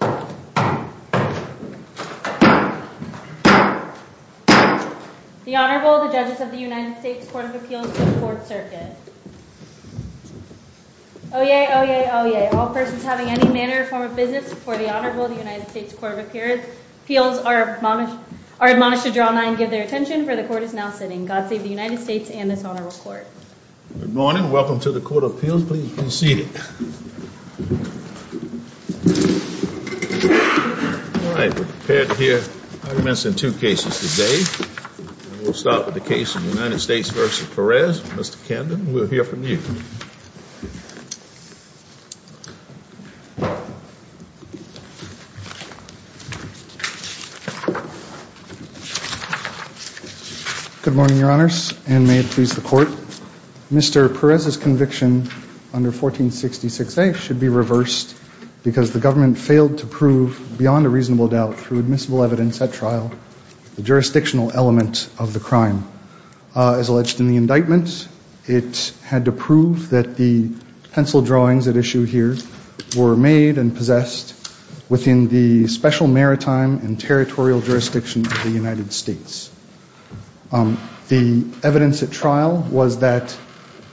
The Honorable, the Judges of the United States Court of Appeals and the Court Circuit. Oyez, oyez, oyez, all persons having any manner or form of business before the Honorable of the United States Court of Appeals are admonished to draw nigh and give their attention, for the Court is now sitting. God save the United States and this Honorable Court. Good morning. Welcome to the Court of Appeals. Please be seated. All right. We're prepared to hear arguments in two cases today. We'll start with the case of the United States v. Perez. Mr. Kenden, we'll hear from you. Good morning, Your Honors, and may it please the Court. Mr. Perez's conviction under 1466A should be reversed because the government failed to prove beyond a reasonable doubt through admissible evidence at trial the jurisdictional element of the crime. As alleged in the indictment, it had to prove that the pencil drawings at issue here were made and possessed within the special maritime and territorial jurisdiction of the United States. The evidence at trial was that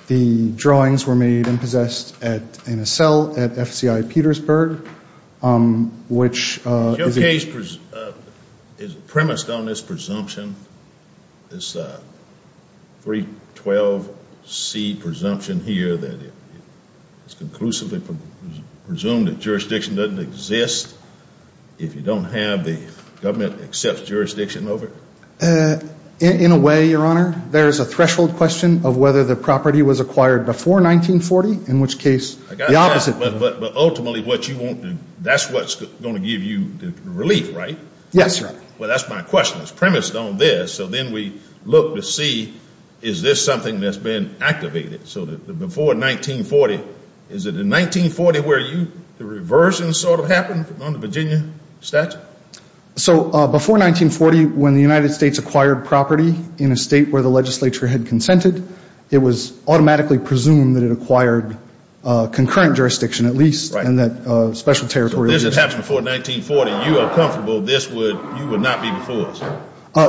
the drawings were made and possessed in a cell at FCI Petersburg, which is a premise on this presumption, this 312C presumption here that it's conclusively presumed that jurisdiction doesn't exist if you don't have the government accept jurisdiction over it. In a way, Your Honor, there's a threshold question of whether the property was acquired before 1940, in which case the opposite. But ultimately what you want, that's what's going to give you relief, right? Yes, Your Honor. Well, that's my question. It's premised on this, so then we look to see is this something that's been activated. So before 1940, is it in 1940 where the reversion sort of happened on the Virginia statute? So before 1940, when the United States acquired property in a state where the legislature had consented, it was automatically presumed that it acquired concurrent jurisdiction, at least, in that special territory. So if this had happened before 1940, you are comfortable this would not be before us?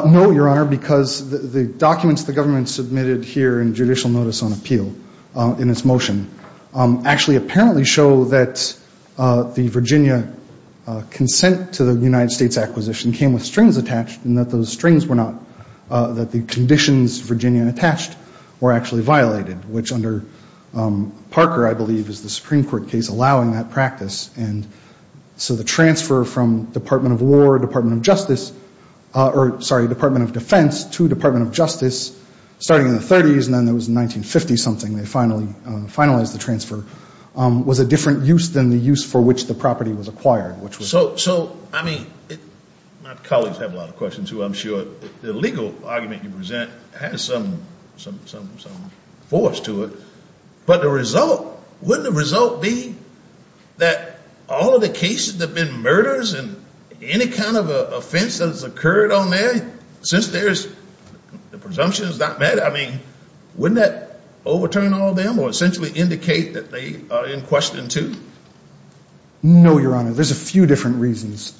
No, Your Honor, because the documents the government submitted here in judicial notice on appeal in its motion actually apparently show that the Virginia consent to the United States acquisition came with strings attached and that those strings were not, that the conditions Virginia attached were actually violated, which under Parker, I believe, is the Supreme Court case allowing that practice. And so the transfer from Department of War, Department of Justice, or, sorry, Department of Defense to Department of Justice, starting in the 30s and then it was 1950-something they finally finalized the transfer, was a different use than the use for which the property was acquired, which was. So, I mean, my colleagues have a lot of questions, too, I'm sure. The legal argument you present has some force to it. But the result, wouldn't the result be that all of the cases that have been murders and any kind of offense that has occurred on there, since there's, the presumption is not met, I mean, wouldn't that overturn all of them or essentially indicate that they are in question, too? No, Your Honor. There's a few different reasons.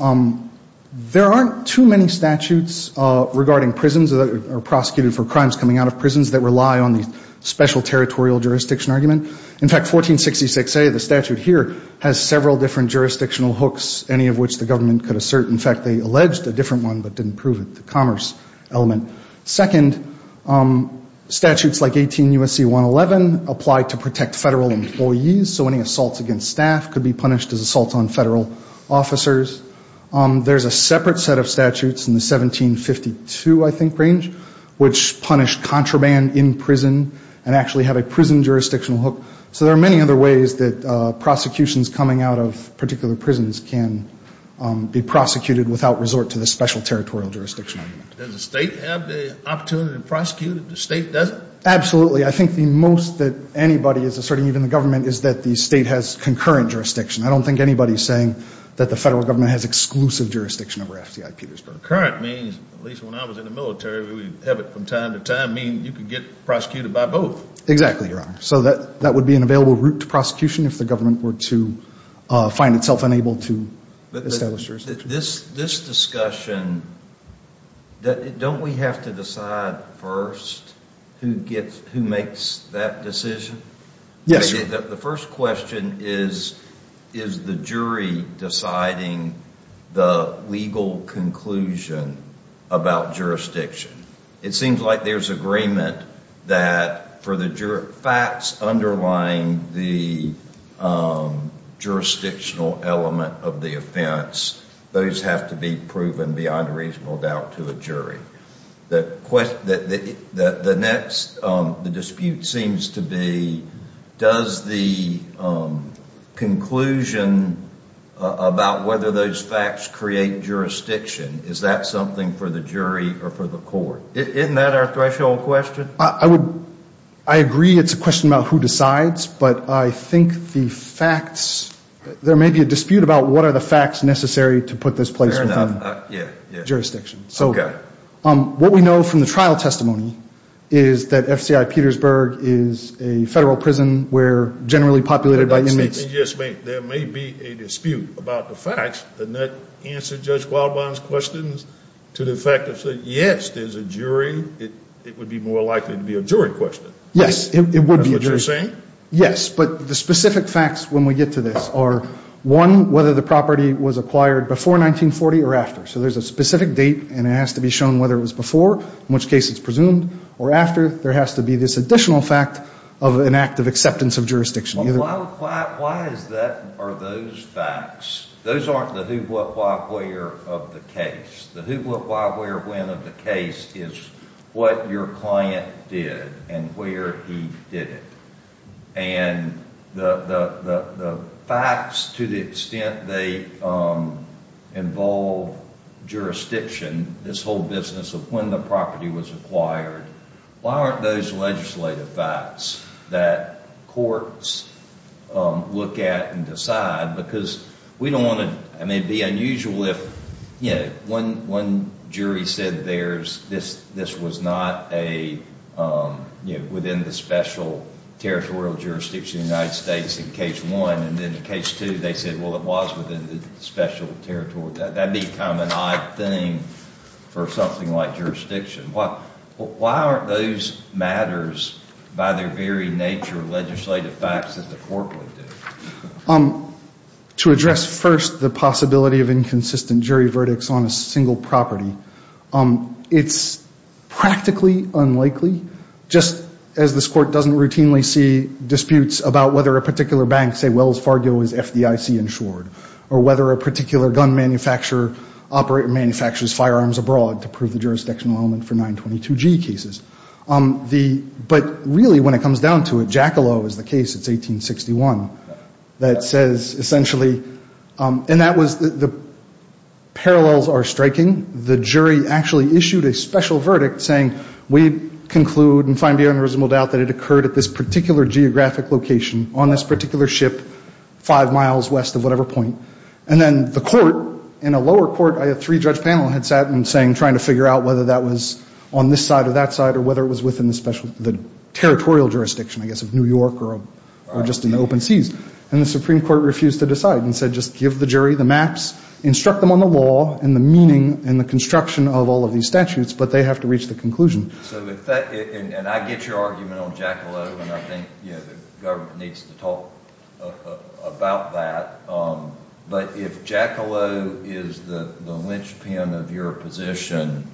There aren't too many statutes regarding prisons or prosecuted for crimes coming out of prisons that rely on the special territorial jurisdiction argument. In fact, 1466A, the statute here, has several different jurisdictional hooks, any of which the government could assert. In fact, they alleged a different one but didn't prove it, the commerce element. Second, statutes like 18 U.S.C. 111 apply to protect federal employees, so any assaults against staff could be punished as assaults on federal officers. There's a separate set of statutes in the 1752, I think, range, which punish contraband in prison and actually have a prison jurisdictional hook, so there are many other ways that prosecutions coming out of particular prisons can be prosecuted without resort to the special territorial jurisdiction argument. Does the state have the opportunity to prosecute if the state doesn't? Absolutely. I think the most that anybody is asserting, even the government, is that the state has concurrent jurisdiction. I don't think anybody is saying that the federal government has exclusive jurisdiction over FDI Petersburg. Concurrent means, at least when I was in the military, we would have it from time to time, meaning you could get prosecuted by both. Exactly, Your Honor. So that would be an available route to prosecution if the government were to find itself unable to establish jurisdiction. This discussion, don't we have to decide first who makes that decision? Yes, Your Honor. The first question is, is the jury deciding the legal conclusion about jurisdiction? It seems like there's agreement that for the facts underlying the jurisdictional element of the offense, those have to be proven beyond reasonable doubt to a jury. The next dispute seems to be, does the conclusion about whether those facts create jurisdiction, is that something for the jury or for the court? Isn't that our threshold question? I agree it's a question about who decides, but I think the facts, there may be a dispute about what are the facts necessary to put this place within jurisdiction. What we know from the trial testimony is that FDI Petersburg is a federal prison where generally populated by inmates. There may be a dispute about the facts, and that answers Judge Gualban's questions to the fact that, yes, there's a jury, it would be more likely to be a jury question. Yes, it would be. That's what you're saying? Yes, but the specific facts when we get to this are, one, whether the property was acquired before 1940 or after. So there's a specific date, and it has to be shown whether it was before, in which case it's presumed, or after. There has to be this additional fact of an act of acceptance of jurisdiction. Why are those facts? Those aren't the who, what, why, where of the case. The who, what, why, where, when of the case is what your client did and where he did it. And the facts to the extent they involve jurisdiction, this whole business of when the property was acquired, why aren't those legislative facts that courts look at and decide? Because we don't want to, I mean, it would be unusual if one jury said this was not within the special territorial jurisdiction of the United States in case one, and then in case two they said, well, it was within the special territorial jurisdiction. That would be kind of an odd thing for something like jurisdiction. Why aren't those matters, by their very nature, legislative facts that the court would do? To address first the possibility of inconsistent jury verdicts on a single property, it's practically unlikely, just as this court doesn't routinely see disputes about whether a particular bank, say Wells Fargo, is FDIC insured, or whether a particular gun manufacturer manufactures firearms abroad to prove the jurisdictional element for 922G cases. But really when it comes down to it, Jackalow is the case, it's 1861, that says essentially, and that was the parallels are striking. The jury actually issued a special verdict saying we conclude and find beyond a reasonable doubt that it occurred at this particular geographic location on this particular ship five miles west of whatever point. And then the court, in a lower court, a three-judge panel had sat in trying to figure out whether that was on this side or that side or whether it was within the territorial jurisdiction, I guess, of New York or just in the open seas. And the Supreme Court refused to decide and said just give the jury the maps, instruct them on the law and the meaning and the construction of all of these statutes, but they have to reach the conclusion. And I get your argument on Jackalow, and I think the government needs to talk about that. But if Jackalow is the linchpin of your position,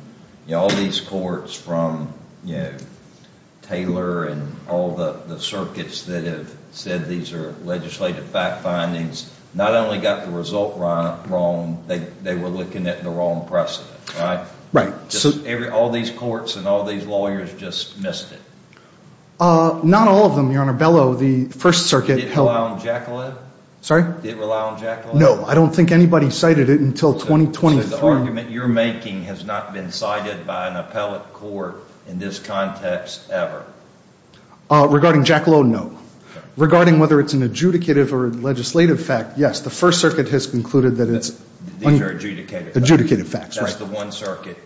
all these courts from Taylor and all the circuits that have said these are legislative fact findings, not only got the result wrong, they were looking at the wrong precedent. Right. All these courts and all these lawyers just missed it. Not all of them, Your Honor. Bellow, the First Circuit held – Did it rely on Jackalow? Sorry? Did it rely on Jackalow? No. I don't think anybody cited it until 2023. So the argument you're making has not been cited by an appellate court in this context ever? Regarding Jackalow, no. Regarding whether it's an adjudicative or legislative fact, yes, the First Circuit has concluded that it's – These are adjudicated facts. Adjudicated facts, right. That's the one circuit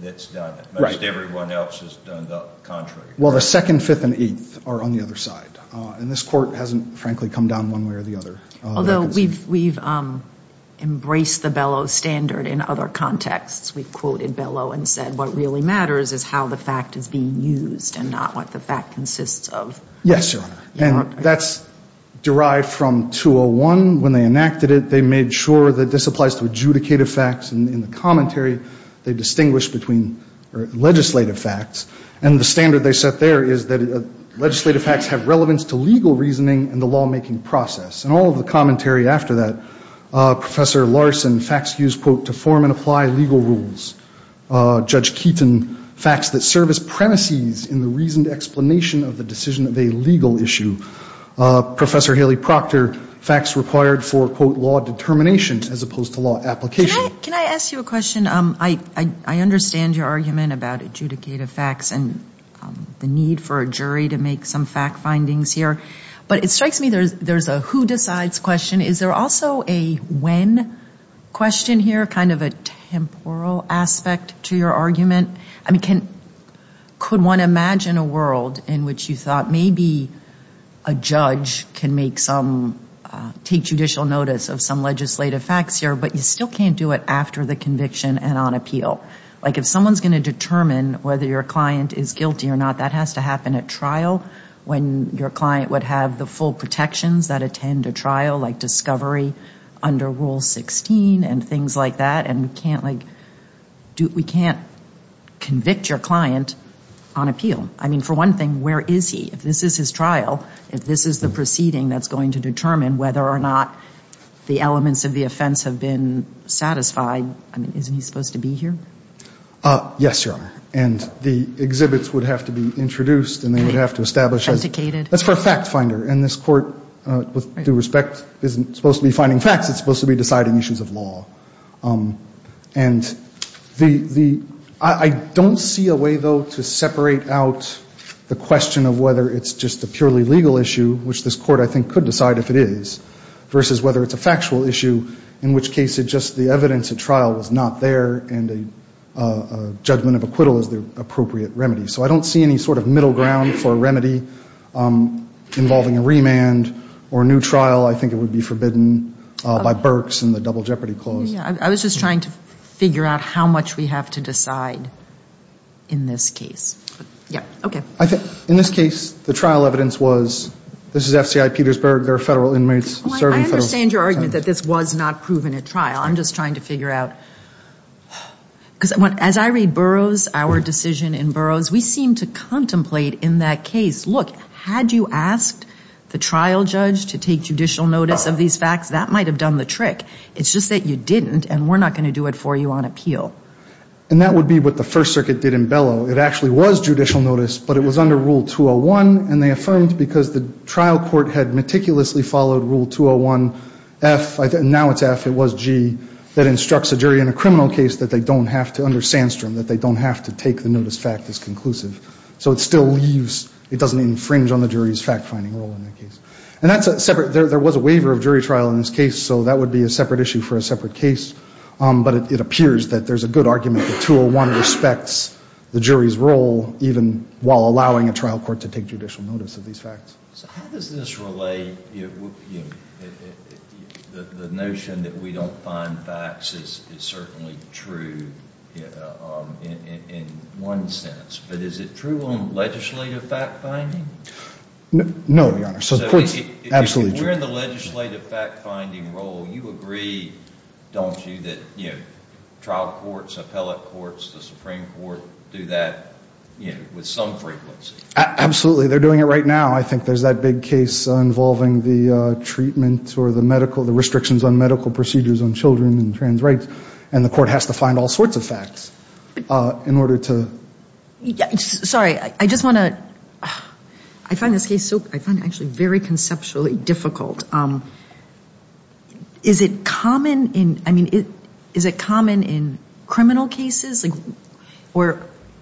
that's done it. Right. Most everyone else has done the contrary. Well, the Second, Fifth, and Eighth are on the other side, and this court hasn't, frankly, come down one way or the other. Although we've embraced the Bellow standard in other contexts. We've quoted Bellow and said what really matters is how the fact is being used and not what the fact consists of. Yes, Your Honor. And that's derived from 201. When they enacted it, they made sure that this applies to adjudicative facts. And in the commentary, they distinguished between legislative facts. And the standard they set there is that legislative facts have relevance to legal reasoning and the lawmaking process. And all of the commentary after that, Professor Larson, facts used, quote, to form and apply legal rules. Judge Keaton, facts that serve as premises in the reasoned explanation of the decision of a legal issue. Professor Haley Proctor, facts required for, quote, law determination as opposed to law application. Can I ask you a question? I understand your argument about adjudicative facts and the need for a jury to make some fact findings here. But it strikes me there's a who decides question. Is there also a when question here, kind of a temporal aspect to your argument? I mean, could one imagine a world in which you thought maybe a judge can make some, take judicial notice of some legislative facts here, but you still can't do it after the conviction and on appeal? Like if someone's going to determine whether your client is guilty or not, that has to happen at trial, when your client would have the full protections that attend a trial like discovery under Rule 16 and things like that. And we can't, like, we can't convict your client on appeal. I mean, for one thing, where is he? If this is his trial, if this is the proceeding that's going to determine whether or not the elements of the offense have been satisfied, I mean, isn't he supposed to be here? Yes, Your Honor. And the exhibits would have to be introduced and they would have to establish. That's for a fact finder. And this Court, with due respect, isn't supposed to be finding facts. It's supposed to be deciding issues of law. And the ‑‑ I don't see a way, though, to separate out the question of whether it's just a purely legal issue, which this Court, I think, could decide if it is, versus whether it's a factual issue, in which case it's just the evidence at trial was not there and a judgment of acquittal is the appropriate remedy. So I don't see any sort of middle ground for a remedy involving a remand or a new trial. I think it would be forbidden by Berks and the Double Jeopardy Clause. I was just trying to figure out how much we have to decide in this case. Yeah. Okay. In this case, the trial evidence was this is FCI Petersburg. There are federal inmates serving federal ‑‑ I understand your argument that this was not proven at trial. I'm just trying to figure out. Because as I read Burroughs, our decision in Burroughs, we seem to contemplate in that case, look, had you asked the trial judge to take judicial notice of these facts, that might have done the trick. It's just that you didn't, and we're not going to do it for you on appeal. And that would be what the First Circuit did in Bellow. It actually was judicial notice, but it was under Rule 201, and they affirmed because the trial court had meticulously followed Rule 201F, and now it's F, it was G, that instructs a jury in a criminal case that they don't have to, under Sandstrom, that they don't have to take the notice fact as conclusive. So it still leaves ‑‑ it doesn't infringe on the jury's fact‑finding role in the case. And that's a separate ‑‑ there was a waiver of jury trial in this case, so that would be a separate issue for a separate case. But it appears that there's a good argument that 201 respects the jury's role, even while allowing a trial court to take judicial notice of these facts. So how does this relate? The notion that we don't find facts is certainly true in one sense, but is it true on legislative fact‑finding? No, Your Honor, so the court's absolutely true. If we're in the legislative fact‑finding role, you agree, don't you, that trial courts, appellate courts, the Supreme Court do that? You know, with some frequency. Absolutely. They're doing it right now. I think there's that big case involving the treatment or the medical ‑‑ the restrictions on medical procedures on children and trans rights, and the court has to find all sorts of facts in order to ‑‑ Sorry, I just want to ‑‑ I find this case so ‑‑ I find it actually very conceptually difficult. Is it common in ‑‑ I mean, is it common in criminal cases?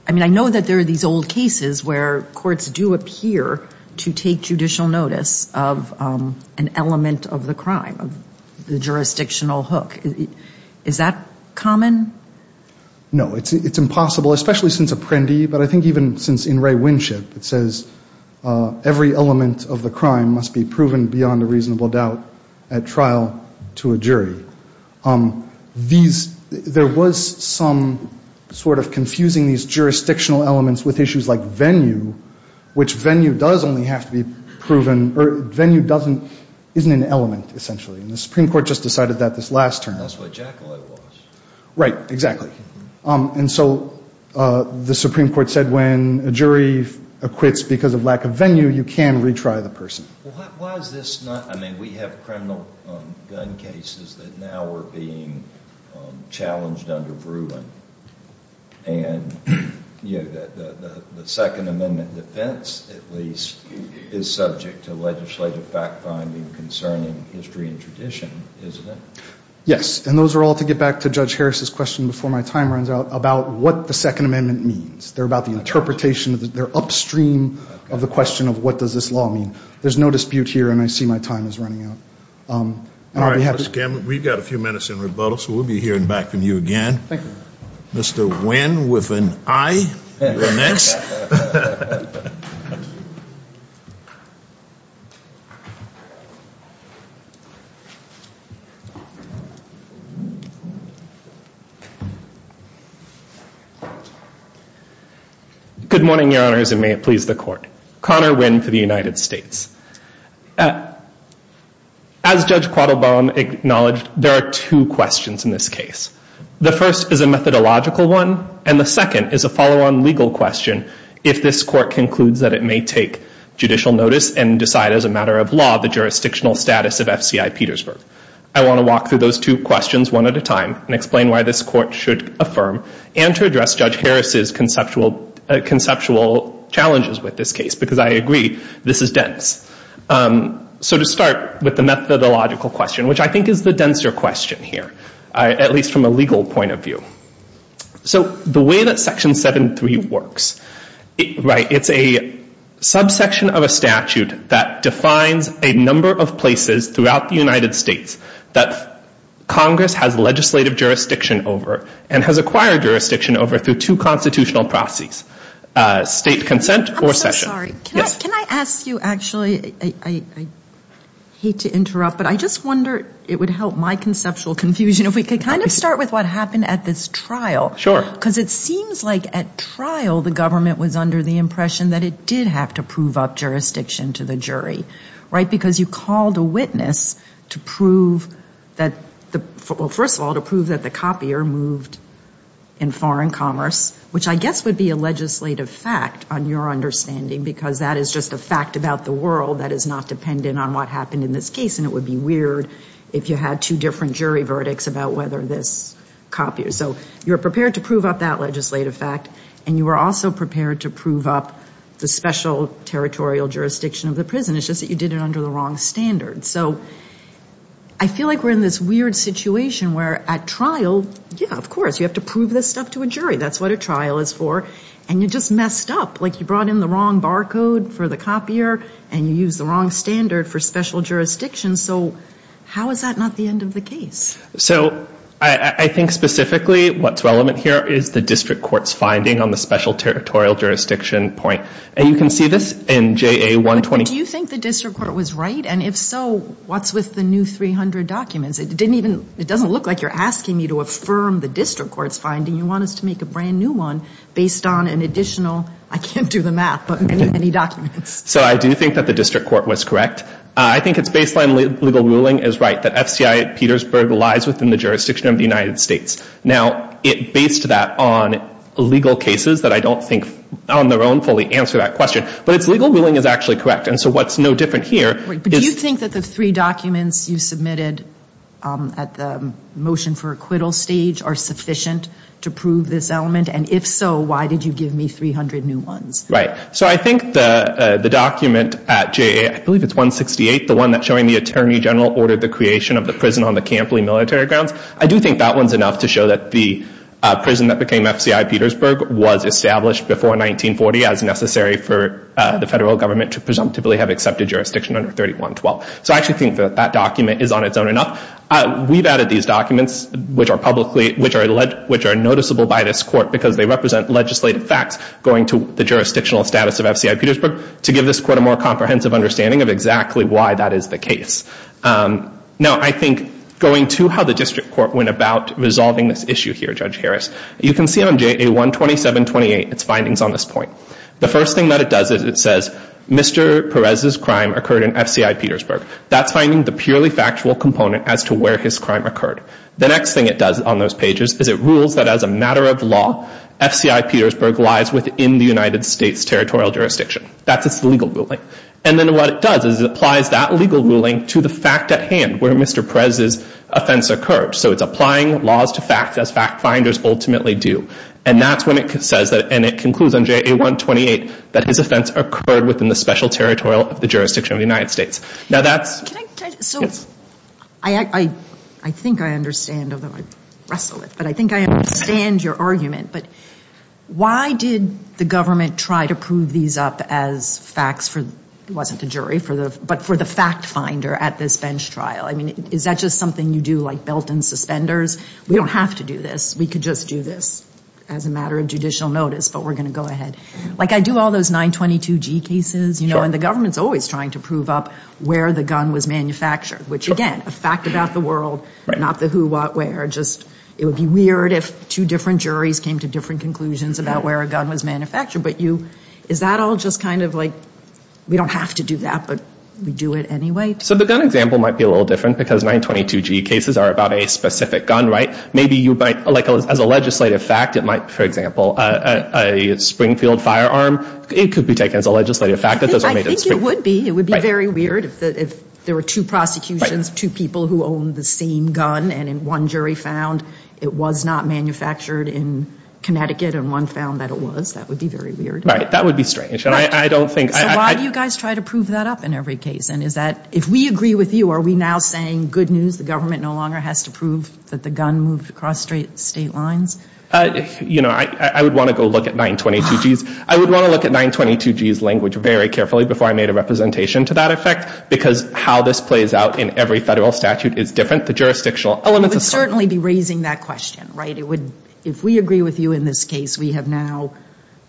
I mean, I know that there are these old cases where courts do appear to take judicial notice of an element of the crime, the jurisdictional hook. Is that common? No, it's impossible, especially since Apprendi, but I think even since In re Winship, it says every element of the crime must be proven beyond a reasonable doubt at trial to a jury. These ‑‑ there was some sort of confusing these jurisdictional elements with issues like venue, which venue does only have to be proven, or venue doesn't ‑‑ isn't an element, essentially, and the Supreme Court just decided that this last term. That's what Jacquelet was. Right, exactly. And so the Supreme Court said when a jury acquits because of lack of venue, you can retry the person. Well, why is this not ‑‑ I mean, we have criminal gun cases that now are being challenged under Bruin, and, you know, the Second Amendment defense, at least, is subject to legislative fact‑finding concerning history and tradition, isn't it? Yes, and those are all, to get back to Judge Harris's question before my time runs out, about what the Second Amendment means. They're about the interpretation. They're upstream of the question of what does this law mean. There's no dispute here, and I see my time is running out. All right, Mr. Gamble, we've got a few minutes in rebuttal, so we'll be hearing back from you again. Thank you. Mr. Nguyen, with an I. You're next. Good morning, Your Honors, and may it please the Court. Connor Nguyen for the United States. As Judge Quattlebaum acknowledged, there are two questions in this case. The first is a methodological one, and the second is a follow‑on legal question if this Court concludes that it may take judicial notice and decide as a matter of law the jurisdictional status of F.C.I. Petersburg. I want to walk through those two questions one at a time and explain why this Court should affirm and to address Judge Harris's conceptual challenges with this case, because I agree this is dense. So to start with the methodological question, which I think is the denser question here, at least from a legal point of view. So the way that Section 7.3 works, right, it's a subsection of a statute that defines a number of places throughout the United States that Congress has legislative jurisdiction over and has acquired jurisdiction over through two constitutional processes, state consent or session. I'm so sorry. Yes. Can I ask you, actually, I hate to interrupt, but I just wonder it would help my conceptual confusion if we could kind of start with what happened at this trial. Sure. Because it seems like at trial the government was under the impression that it did have to prove up jurisdiction to the jury, right, because you called a witness to prove that, well, first of all, to prove that the copier moved in foreign commerce, which I guess would be a legislative fact on your understanding because that is just a fact about the world that is not dependent on what happened in this case, and it would be weird if you had two different jury verdicts about whether this copier. So you were prepared to prove up that legislative fact, and you were also prepared to prove up the special territorial jurisdiction of the prison. It's just that you did it under the wrong standards. So I feel like we're in this weird situation where at trial, yeah, of course, you have to prove this stuff to a jury. That's what a trial is for. And you just messed up. Like you brought in the wrong barcode for the copier, and you used the wrong standard for special jurisdiction. So how is that not the end of the case? So I think specifically what's relevant here is the district court's finding on the special territorial jurisdiction point. And you can see this in JA120. But do you think the district court was right? And if so, what's with the new 300 documents? It doesn't look like you're asking me to affirm the district court's finding. You want us to make a brand new one based on an additional, I can't do the math, but many, many documents. So I do think that the district court was correct. I think its baseline legal ruling is right, that FCI at Petersburg lies within the jurisdiction of the United States. Now, it based that on legal cases that I don't think on their own fully answer that question. But its legal ruling is actually correct. And so what's no different here is- But do you think that the three documents you submitted at the motion for acquittal stage are sufficient to prove this element? And if so, why did you give me 300 new ones? Right. So I think the document at JA, I believe it's 168, the one that's showing the attorney general ordered the creation of the prison on the Campley military grounds, I do think that one's enough to show that the prison that became FCI Petersburg was established before 1940 as necessary for the federal government to presumptively have accepted jurisdiction under 3112. So I actually think that that document is on its own enough. We've added these documents, which are noticeable by this court because they represent legislative facts going to the jurisdictional status of FCI Petersburg to give this court a more comprehensive understanding of exactly why that is the case. Now, I think going to how the district court went about resolving this issue here, Judge Harris, you can see on JA 12728 its findings on this point. The first thing that it does is it says, Mr. Perez's crime occurred in FCI Petersburg. That's finding the purely factual component as to where his crime occurred. The next thing it does on those pages is it rules that as a matter of law, FCI Petersburg lies within the United States territorial jurisdiction. That's its legal ruling. And then what it does is it applies that legal ruling to the fact at hand where Mr. Perez's offense occurred. So it's applying laws to facts as fact finders ultimately do. And that's when it says that, and it concludes on JA 128, that his offense occurred within the special territorial jurisdiction of the United States. Now, that's... So I think I understand, although I wrestle with it, but I think I understand your argument. But why did the government try to prove these up as facts for, it wasn't a jury, but for the fact finder at this bench trial? I mean, is that just something you do like belt and suspenders? We don't have to do this. We could just do this as a matter of judicial notice, but we're going to go ahead. Like, I do all those 922G cases, you know, and the government's always trying to prove up where the gun was manufactured, which, again, a fact about the world, not the who, what, where. It would be weird if two different juries came to different conclusions about where a gun was manufactured. But is that all just kind of like, we don't have to do that, but we do it anyway? So the gun example might be a little different, because 922G cases are about a specific gun, right? Maybe you might, like, as a legislative fact, it might, for example, a Springfield firearm, it could be taken as a legislative fact that those were made in Springfield. I think it would be. It would be very weird if there were two prosecutions, two people who own the same gun, and one jury found it was not manufactured in Connecticut, and one found that it was. That would be very weird. Right. That would be strange. And I don't think... Why do you guys try to prove that up in every case? And is that, if we agree with you, are we now saying, good news, the government no longer has to prove that the gun moved across state lines? You know, I would want to go look at 922G's language very carefully before I made a representation to that effect, because how this plays out in every federal statute is different. The jurisdictional elements... We would certainly be raising that question, right? It would, if we agree with you in this case, we have now,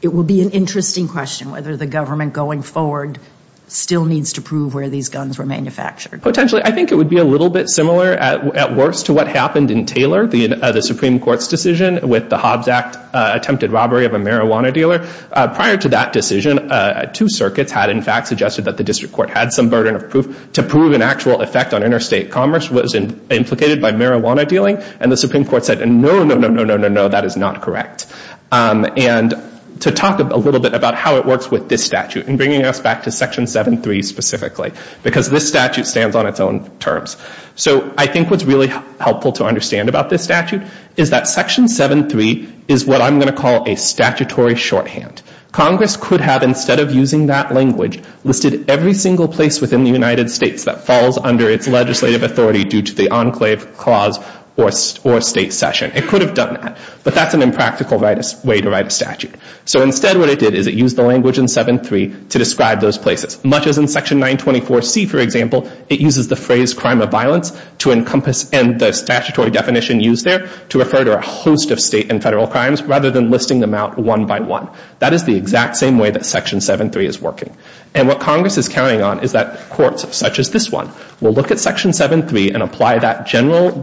it would be an interesting question whether the government going forward still needs to prove where these guns were manufactured. I think it would be a little bit similar, at worst, to what happened in Taylor, the Supreme Court's decision with the Hobbs Act attempted robbery of a marijuana dealer. Prior to that decision, two circuits had, in fact, suggested that the district court had some burden of proof to prove an actual effect on interstate commerce was implicated by marijuana dealing, and the Supreme Court said, no, no, no, no, no, no, no, that is not correct. And to talk a little bit about how it works with this statute and bringing us back to Section 7.3 specifically, because this statute stands on its own terms. So I think what's really helpful to understand about this statute is that Section 7.3 is what I'm going to call a statutory shorthand. Congress could have, instead of using that language, listed every single place within the United States that falls under its legislative authority due to the enclave clause or state session. It could have done that, but that's an impractical way to write a statute. So instead what it did is it used the language in 7.3 to describe those places. Much as in Section 924C, for example, it uses the phrase crime of violence and the statutory definition used there to refer to a host of state and federal crimes rather than listing them out one by one. That is the exact same way that Section 7.3 is working. And what Congress is counting on is that courts such as this one will look at Section 7.3 and apply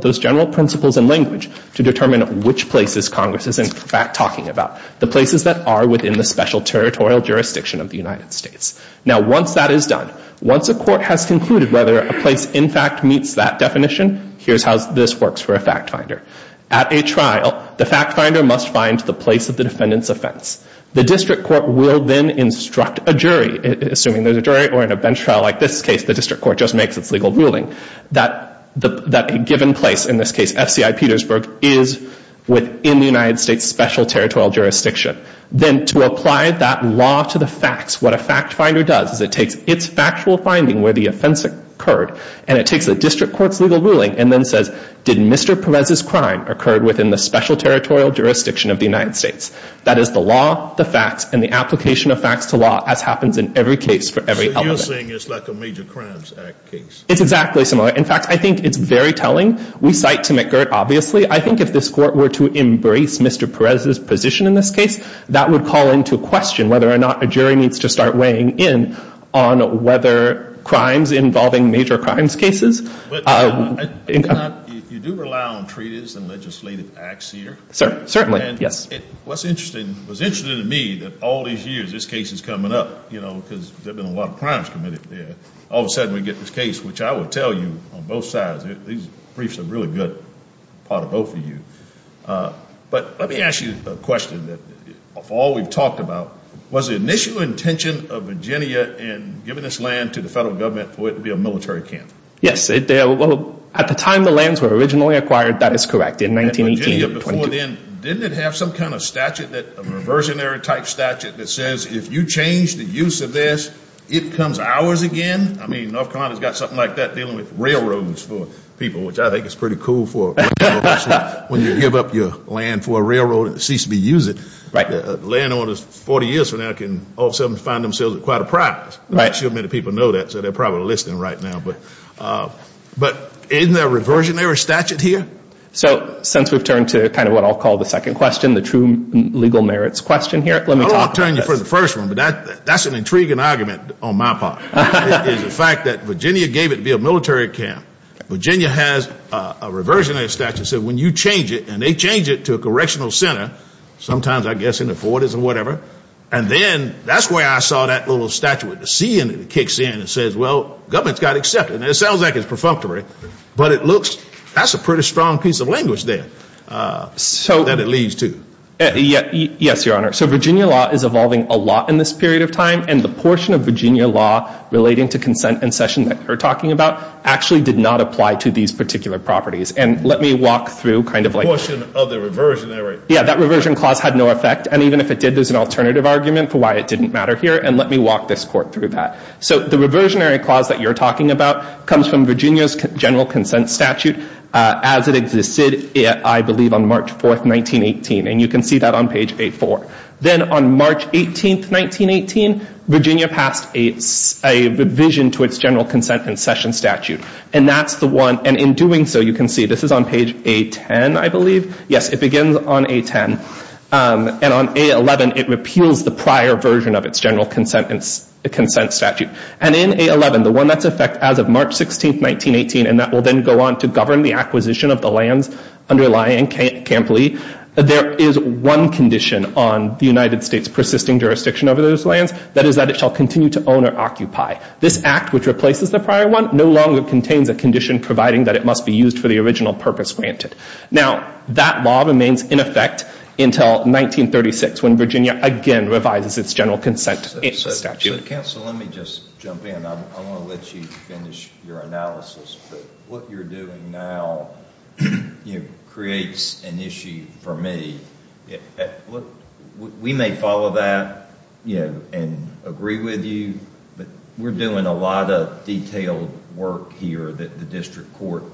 those general principles and language to determine which places Congress is in fact talking about, the places that are within the special territorial jurisdiction of the United States. Now once that is done, once a court has concluded whether a place in fact meets that definition, here's how this works for a fact finder. At a trial, the fact finder must find the place of the defendant's offense. The district court will then instruct a jury, assuming there's a jury or in a bench trial like this case, the district court just makes its legal ruling, that a given place, in this case FCI Petersburg, is within the United States special territorial jurisdiction. Then to apply that law to the facts, what a fact finder does is it takes its factual finding where the offense occurred and it takes the district court's legal ruling and then says, did Mr. Perez's crime occur within the special territorial jurisdiction of the United States? That is the law, the facts, and the application of facts to law as happens in every case for every element. So you're saying it's like a Major Crimes Act case? It's exactly similar. In fact, I think it's very telling. We cite to McGirt, obviously. I think if this Court were to embrace Mr. Perez's position in this case, that would call into question whether or not a jury needs to start weighing in on whether crimes involving major crimes cases. You do rely on treaties and legislative acts here. Certainly. Yes. What's interesting, what's interesting to me, that all these years this case is coming up, you know, because there have been a lot of crimes committed. All of a sudden we get this case, which I will tell you on both sides, these briefs are a really good part of both of you. But let me ask you a question. Of all we've talked about, was the initial intention of Virginia in giving this land to the federal government for it to be a military camp? Yes. At the time the lands were originally acquired, that is correct, in 1918. And Virginia before then, didn't it have some kind of statute, a reversionary type statute that says if you change the use of this, it comes ours again? I mean, North Carolina has got something like that dealing with railroads for people, which I think is pretty cool for when you give up your land for a railroad and it ceases to be used. Right. Landowners 40 years from now can all of a sudden find themselves with quite a prize. Right. Not too many people know that, so they're probably listening right now. But isn't there a reversionary statute here? So since we've turned to kind of what I'll call the second question, the true legal merits question here, let me talk about this. I don't want to turn you for the first one, but that's an intriguing argument on my part, is the fact that Virginia gave it to be a military camp. Virginia has a reversionary statute that says when you change it, and they change it to a correctional center, sometimes I guess in the 40s or whatever, and then that's where I saw that little statute with the C in it that kicks in and says, well, government's got to accept it. And it sounds like it's perfunctory, but it looks that's a pretty strong piece of language there that it leads to. Yes, Your Honor. So Virginia law is evolving a lot in this period of time, and the portion of Virginia law relating to consent and session that we're talking about actually did not apply to these particular properties. And let me walk through kind of like the question of the reversionary. Yeah, that reversion clause had no effect, and even if it did there's an alternative argument for why it didn't matter here, and let me walk this court through that. So the reversionary clause that you're talking about comes from Virginia's general consent statute as it existed, I believe, on March 4, 1918. And you can see that on page A4. Then on March 18, 1918, Virginia passed a revision to its general consent and session statute, and in doing so you can see this is on page A10, I believe. Yes, it begins on A10, and on A11 it repeals the prior version of its general consent statute. And in A11, the one that's in effect as of March 16, 1918, and that will then go on to govern the acquisition of the lands underlying Camp Lee, there is one condition on the United States persisting jurisdiction over those lands, that is that it shall continue to own or occupy. This act, which replaces the prior one, no longer contains a condition providing that it must be used for the original purpose granted. Now, that law remains in effect until 1936 when Virginia again revises its general consent statute. So, counsel, let me just jump in. I want to let you finish your analysis. What you're doing now creates an issue for me. We may follow that and agree with you, but we're doing a lot of detailed work here that the district court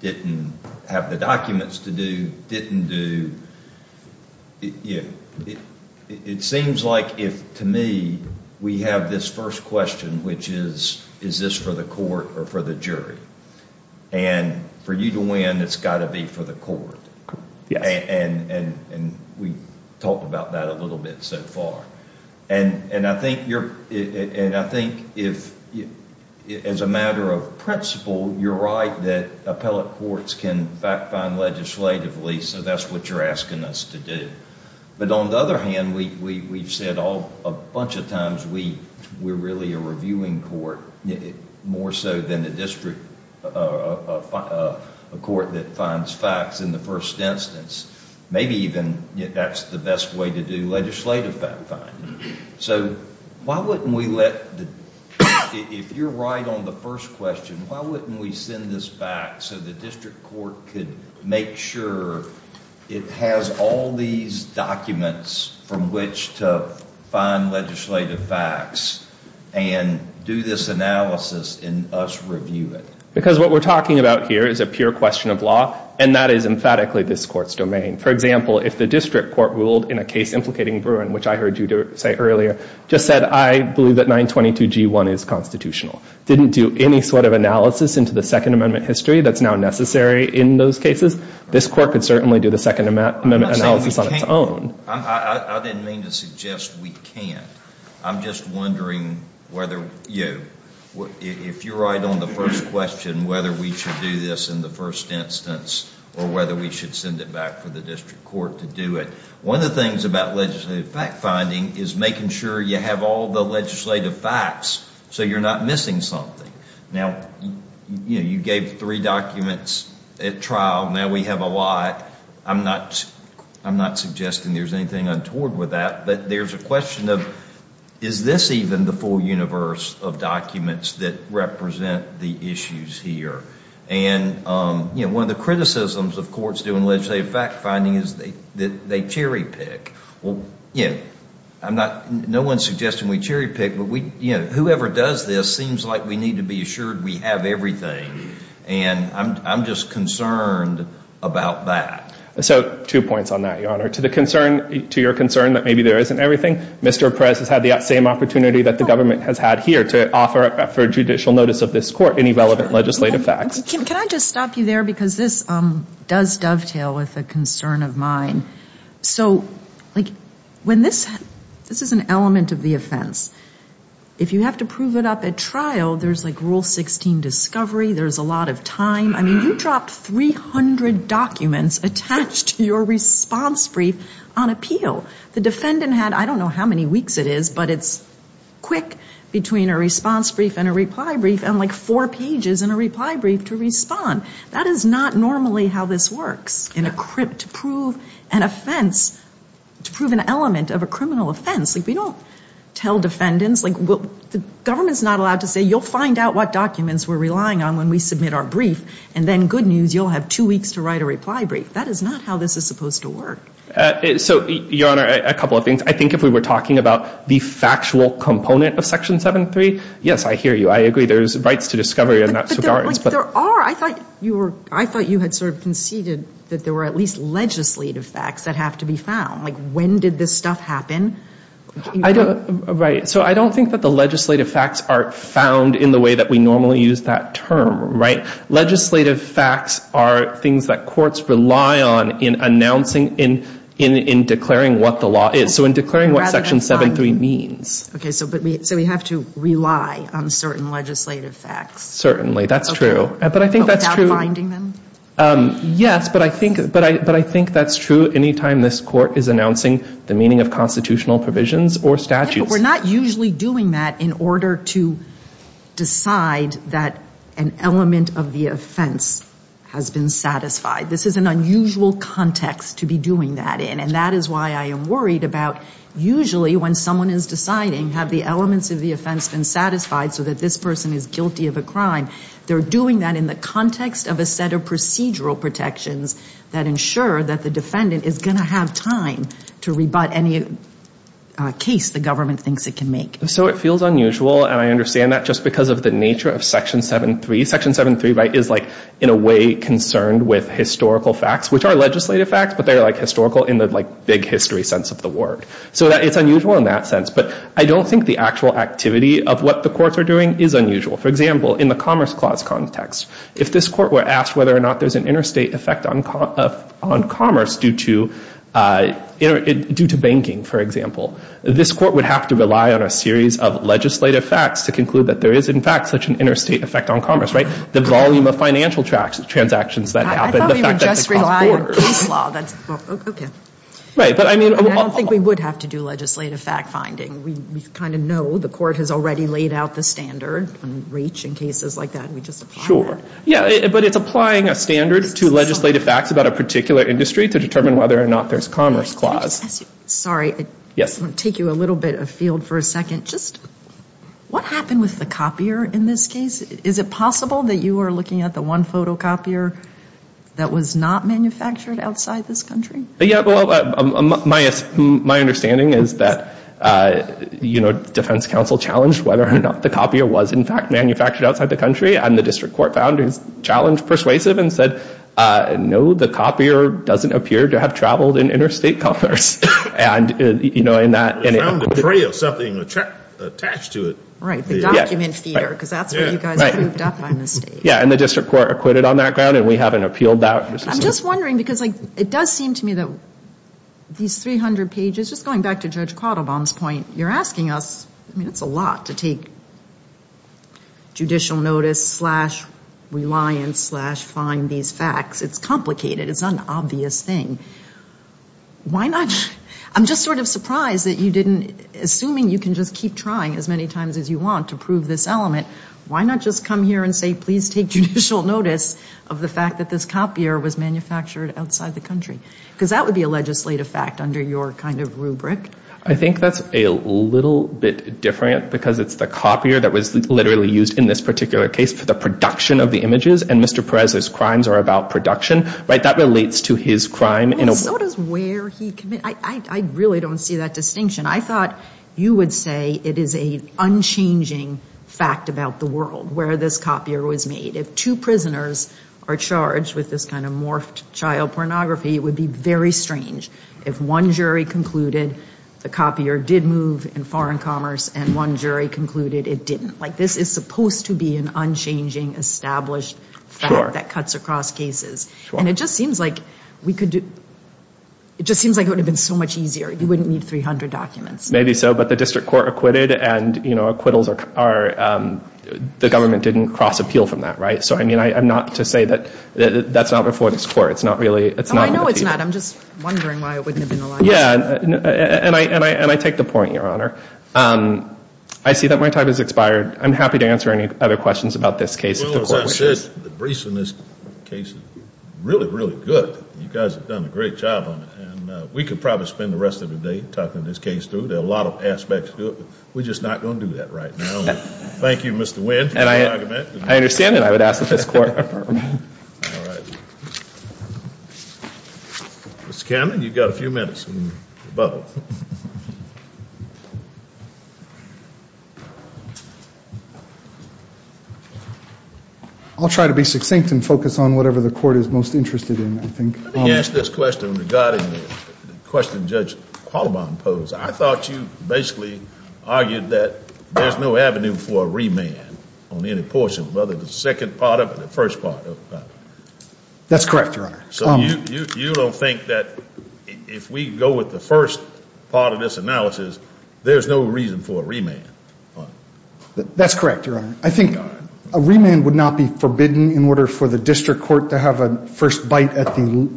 didn't have the documents to do, didn't do. It seems like, to me, we have this first question, which is, is this for the court or for the jury? And for you to win, it's got to be for the court. And we've talked about that a little bit so far. And I think if, as a matter of principle, you're right that appellate courts can fact-find legislatively, so that's what you're asking us to do. But on the other hand, we've said a bunch of times we're really a reviewing court, more so than a district court that finds facts in the first instance. Maybe even that's the best way to do legislative fact-finding. So why wouldn't we let, if you're right on the first question, why wouldn't we send this back so the district court could make sure it has all these documents from which to find legislative facts and do this analysis and us review it? Because what we're talking about here is a pure question of law, and that is emphatically this court's domain. For example, if the district court ruled in a case implicating Bruin, which I heard you say earlier, just said, I believe that 922G1 is constitutional, didn't do any sort of analysis into the Second Amendment history that's now necessary in those cases, this court could certainly do the Second Amendment analysis on its own. I didn't mean to suggest we can't. I'm just wondering whether you, if you're right on the first question, whether we should do this in the first instance or whether we should send it back for the district court to do it. One of the things about legislative fact-finding is making sure you have all the legislative facts so you're not missing something. Now, you gave three documents at trial. Now we have a lot. I'm not suggesting there's anything untoward with that, but there's a question of is this even the full universe of documents that represent the issues here? And one of the criticisms of courts doing legislative fact-finding is that they cherry-pick. Well, you know, no one's suggesting we cherry-pick, but whoever does this seems like we need to be assured we have everything, and I'm just concerned about that. So two points on that, Your Honor. To the concern, to your concern that maybe there isn't everything, Mr. Perez has had the same opportunity that the government has had here to offer for judicial notice of this court any relevant legislative facts. Can I just stop you there? Because this does dovetail with a concern of mine. So, like, when this, this is an element of the offense. If you have to prove it up at trial, there's like Rule 16 discovery, there's a lot of time. I mean, you dropped 300 documents attached to your response brief on appeal. The defendant had, I don't know how many weeks it is, but it's quick between a response brief and a reply brief and, like, four pages in a reply brief to respond. That is not normally how this works. To prove an offense, to prove an element of a criminal offense, like, we don't tell defendants, like, the government's not allowed to say, you'll find out what documents we're relying on when we submit our brief, and then, good news, you'll have two weeks to write a reply brief. That is not how this is supposed to work. So, Your Honor, a couple of things. I think if we were talking about the factual component of Section 7-3, yes, I hear you. I agree there's rights to discovery in that regard. But there are. I thought you were, I thought you had sort of conceded that there were at least legislative facts that have to be found. Like, when did this stuff happen? Right. So I don't think that the legislative facts are found in the way that we normally use that term, right? Legislative facts are things that courts rely on in announcing, in declaring what the law is. So in declaring what Section 7-3 means. Okay. So we have to rely on certain legislative facts. Certainly. That's true. But I think that's true. We're not usually doing that in order to decide that an element of the offense has been satisfied. This is an unusual context to be doing that in. And that is why I am worried about usually when someone is deciding, have the elements of the offense been satisfied so that this person is guilty of a crime, they're doing that in the context of a set of procedural protections that ensure that the defendant is going to have time to rebut any case the government thinks it can make. So it feels unusual, and I understand that just because of the nature of Section 7-3. Section 7-3, right, is like in a way concerned with historical facts, which are legislative facts, but they're like historical in the like big history sense of the word. So it's unusual in that sense. But I don't think the actual activity of what the courts are doing is unusual. For example, in the Commerce Clause context, if this court were asked whether or not there's an interstate effect on commerce due to banking, for example, this court would have to rely on a series of legislative facts to conclude that there is, in fact, such an interstate effect on commerce, right? The volume of financial transactions that happen, the fact that it causes borders. I thought we would just rely on case law. Okay. Right, but I mean. I don't think we would have to do legislative fact finding. We kind of know the court has already laid out the standard. In REACH and cases like that, we just apply that. Yeah, but it's applying a standard to legislative facts about a particular industry to determine whether or not there's commerce clause. Sorry. Yes. I'm going to take you a little bit afield for a second. Just what happened with the copier in this case? Is it possible that you were looking at the one photocopier that was not manufactured outside this country? Yeah, well, my understanding is that, you know, defense counsel challenged whether or not the copier was, in fact, manufactured outside the country. And the district court found his challenge persuasive and said, no, the copier doesn't appear to have traveled in interstate commerce. And, you know, in that. We found a tray of something attached to it. Right, the document feeder, because that's where you guys moved up on the stage. Yeah, and the district court acquitted on that ground, and we haven't appealed that. I'm just wondering, because it does seem to me that these 300 pages, just going back to Judge Quattlebaum's point, you're asking us, I mean, it's a lot to take judicial notice slash reliance slash find these facts. It's complicated. It's an obvious thing. Why not? I'm just sort of surprised that you didn't, assuming you can just keep trying as many times as you want to prove this element, why not just come here and say please take judicial notice of the fact that this copier was manufactured outside the country? Because that would be a legislative fact under your kind of rubric. I think that's a little bit different, because it's the copier that was literally used in this particular case for the production of the images, and Mr. Perez's crimes are about production. Right, that relates to his crime. So does where he committed. I really don't see that distinction. I thought you would say it is an unchanging fact about the world where this copier was made. If two prisoners are charged with this kind of morphed child pornography, it would be very strange. If one jury concluded the copier did move in foreign commerce and one jury concluded it didn't. Like this is supposed to be an unchanging, established fact that cuts across cases. And it just seems like we could do, it just seems like it would have been so much easier. You wouldn't need 300 documents. Maybe so, but the district court acquitted and, you know, acquittals are, the government didn't cross appeal from that, right? So, I mean, I'm not to say that that's not before this court. It's not really, it's not. Oh, I know it's not. I'm just wondering why it wouldn't have been allowed. Yeah, and I take the point, Your Honor. I see that my time has expired. I'm happy to answer any other questions about this case. Well, as I said, the briefs in this case are really, really good. You guys have done a great job on it. And we could probably spend the rest of the day talking this case through. There are a lot of aspects to it. We're just not going to do that right now. Thank you, Mr. Wynn, for your argument. I understand that. I would ask that this court. All right. Mr. Cannon, you've got a few minutes in the bubble. I'll try to be succinct and focus on whatever the court is most interested in, I think. Let me ask this question regarding the question Judge Qualibon posed. I thought you basically argued that there's no avenue for a remand on any portion, whether the second part of it or the first part of it. That's correct, Your Honor. So you don't think that if we go with the first part of this analysis, there's no reason for a remand? That's correct, Your Honor. I think a remand would not be forbidden in order for the district court to have a first bite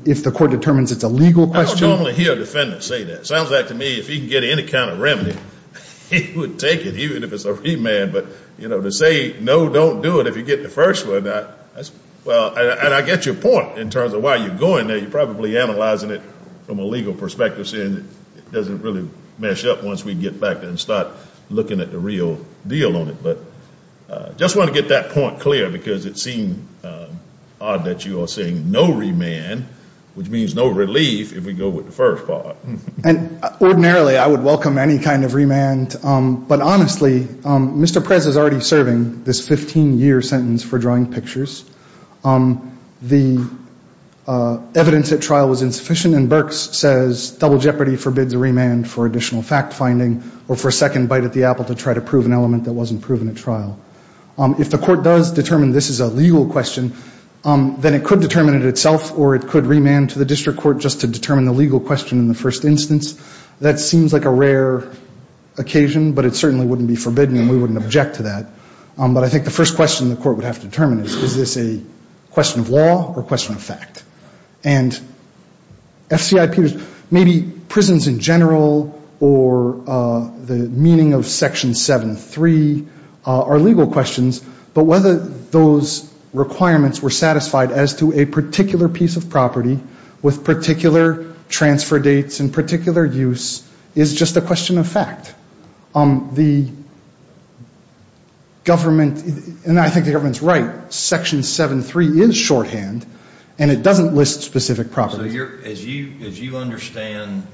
if the court determines it's a legal question. I don't normally hear a defendant say that. It sounds like to me if he can get any kind of remedy, he would take it, even if it's a remand. But, you know, to say, no, don't do it if you get the first one, that's – well, and I get your point in terms of why you're going there. You're probably analyzing it from a legal perspective, saying it doesn't really mesh up once we get back there and start looking at the real deal on it. But I just want to get that point clear because it seems odd that you are saying no remand, which means no relief if we go with the first part. And ordinarily I would welcome any kind of remand. But honestly, Mr. Prez is already serving this 15-year sentence for drawing pictures. The evidence at trial was insufficient. And Berks says double jeopardy forbids a remand for additional fact finding or for a second bite at the apple to try to prove an element that wasn't proven at trial. If the court does determine this is a legal question, then it could determine it itself or it could remand to the district court just to determine the legal question in the first instance. That seems like a rare occasion, but it certainly wouldn't be forbidden and we wouldn't object to that. But I think the first question the court would have to determine is, is this a question of law or a question of fact? And maybe prisons in general or the meaning of Section 7.3 are legal questions, but whether those requirements were satisfied as to a particular piece of property with particular transfer dates and particular use is just a question of fact. The government, and I think the government's right, Section 7.3 is shorthand and it doesn't list specific properties. So as you understand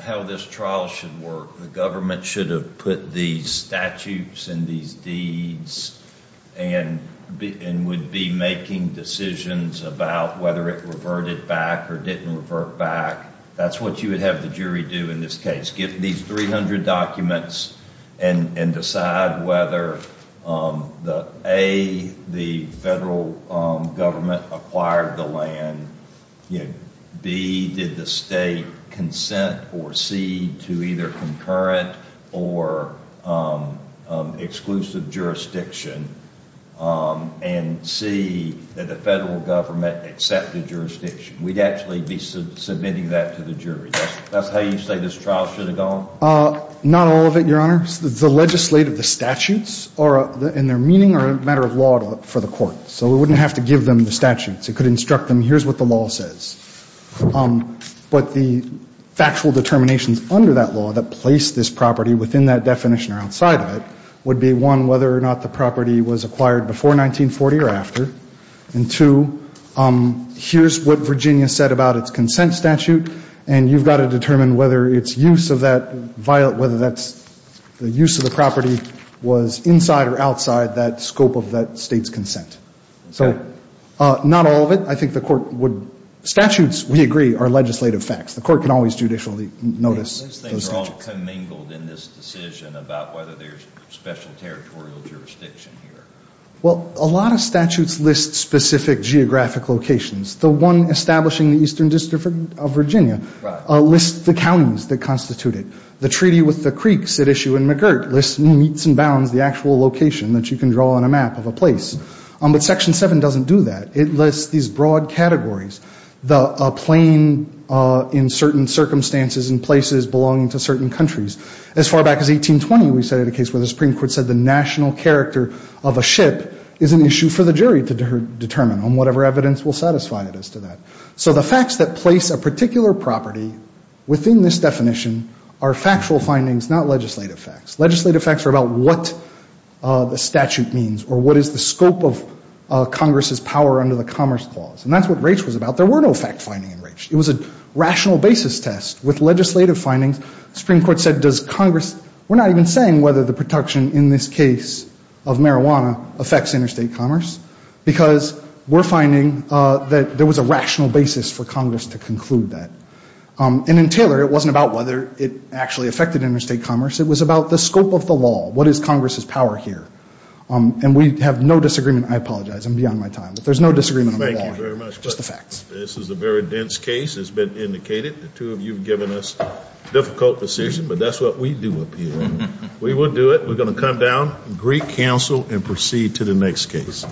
how this trial should work, the government should have put these statutes and these deeds and would be making decisions about whether it reverted back or didn't revert back. That's what you would have the jury do in this case, get these 300 documents and decide whether A, the federal government acquired the land, B, did the state consent, or C, to either concurrent or exclusive jurisdiction, and C, did the federal government accept the jurisdiction. We'd actually be submitting that to the jury. That's how you say this trial should have gone? Not all of it, Your Honor. The legislative, the statutes and their meaning are a matter of law for the court. So we wouldn't have to give them the statutes. It could instruct them, here's what the law says. But the factual determinations under that law that place this property within that definition or outside of it would be, one, whether or not the property was acquired before 1940 or after, and two, here's what Virginia said about its consent statute, and you've got to determine whether its use of that, whether that's the use of the property was inside or outside that scope of that state's consent. So not all of it. I think the court would, statutes, we agree, are legislative facts. The court can always judicially notice. These things are all commingled in this decision about whether there's special territorial jurisdiction here. Well, a lot of statutes list specific geographic locations. The one establishing the eastern district of Virginia lists the counties that constitute it. The treaty with the creeks at issue in McGirt lists, meets and bounds, the actual location that you can draw on a map of a place. But Section 7 doesn't do that. It lists these broad categories. The plain in certain circumstances and places belonging to certain countries. As far back as 1820, we cited a case where the Supreme Court said the national character of a ship is an issue for the jury to determine on whatever evidence will satisfy it as to that. So the facts that place a particular property within this definition are factual findings, not legislative facts. Legislative facts are about what the statute means or what is the scope of Congress's power under the Commerce Clause. And that's what Raich was about. There were no fact-finding in Raich. It was a rational basis test. With legislative findings, the Supreme Court said, does Congress, we're not even saying whether the protection in this case of marijuana affects interstate commerce, because we're finding that there was a rational basis for Congress to conclude that. And in Taylor, it wasn't about whether it actually affected interstate commerce. It was about the scope of the law. What is Congress's power here? And we have no disagreement. I apologize. I'm beyond my time. But there's no disagreement on the law. Just the facts. This is a very dense case, as has been indicated. The two of you have given us a difficult decision, but that's what we do up here. We will do it. We're going to come down, greet counsel, and proceed to the next case.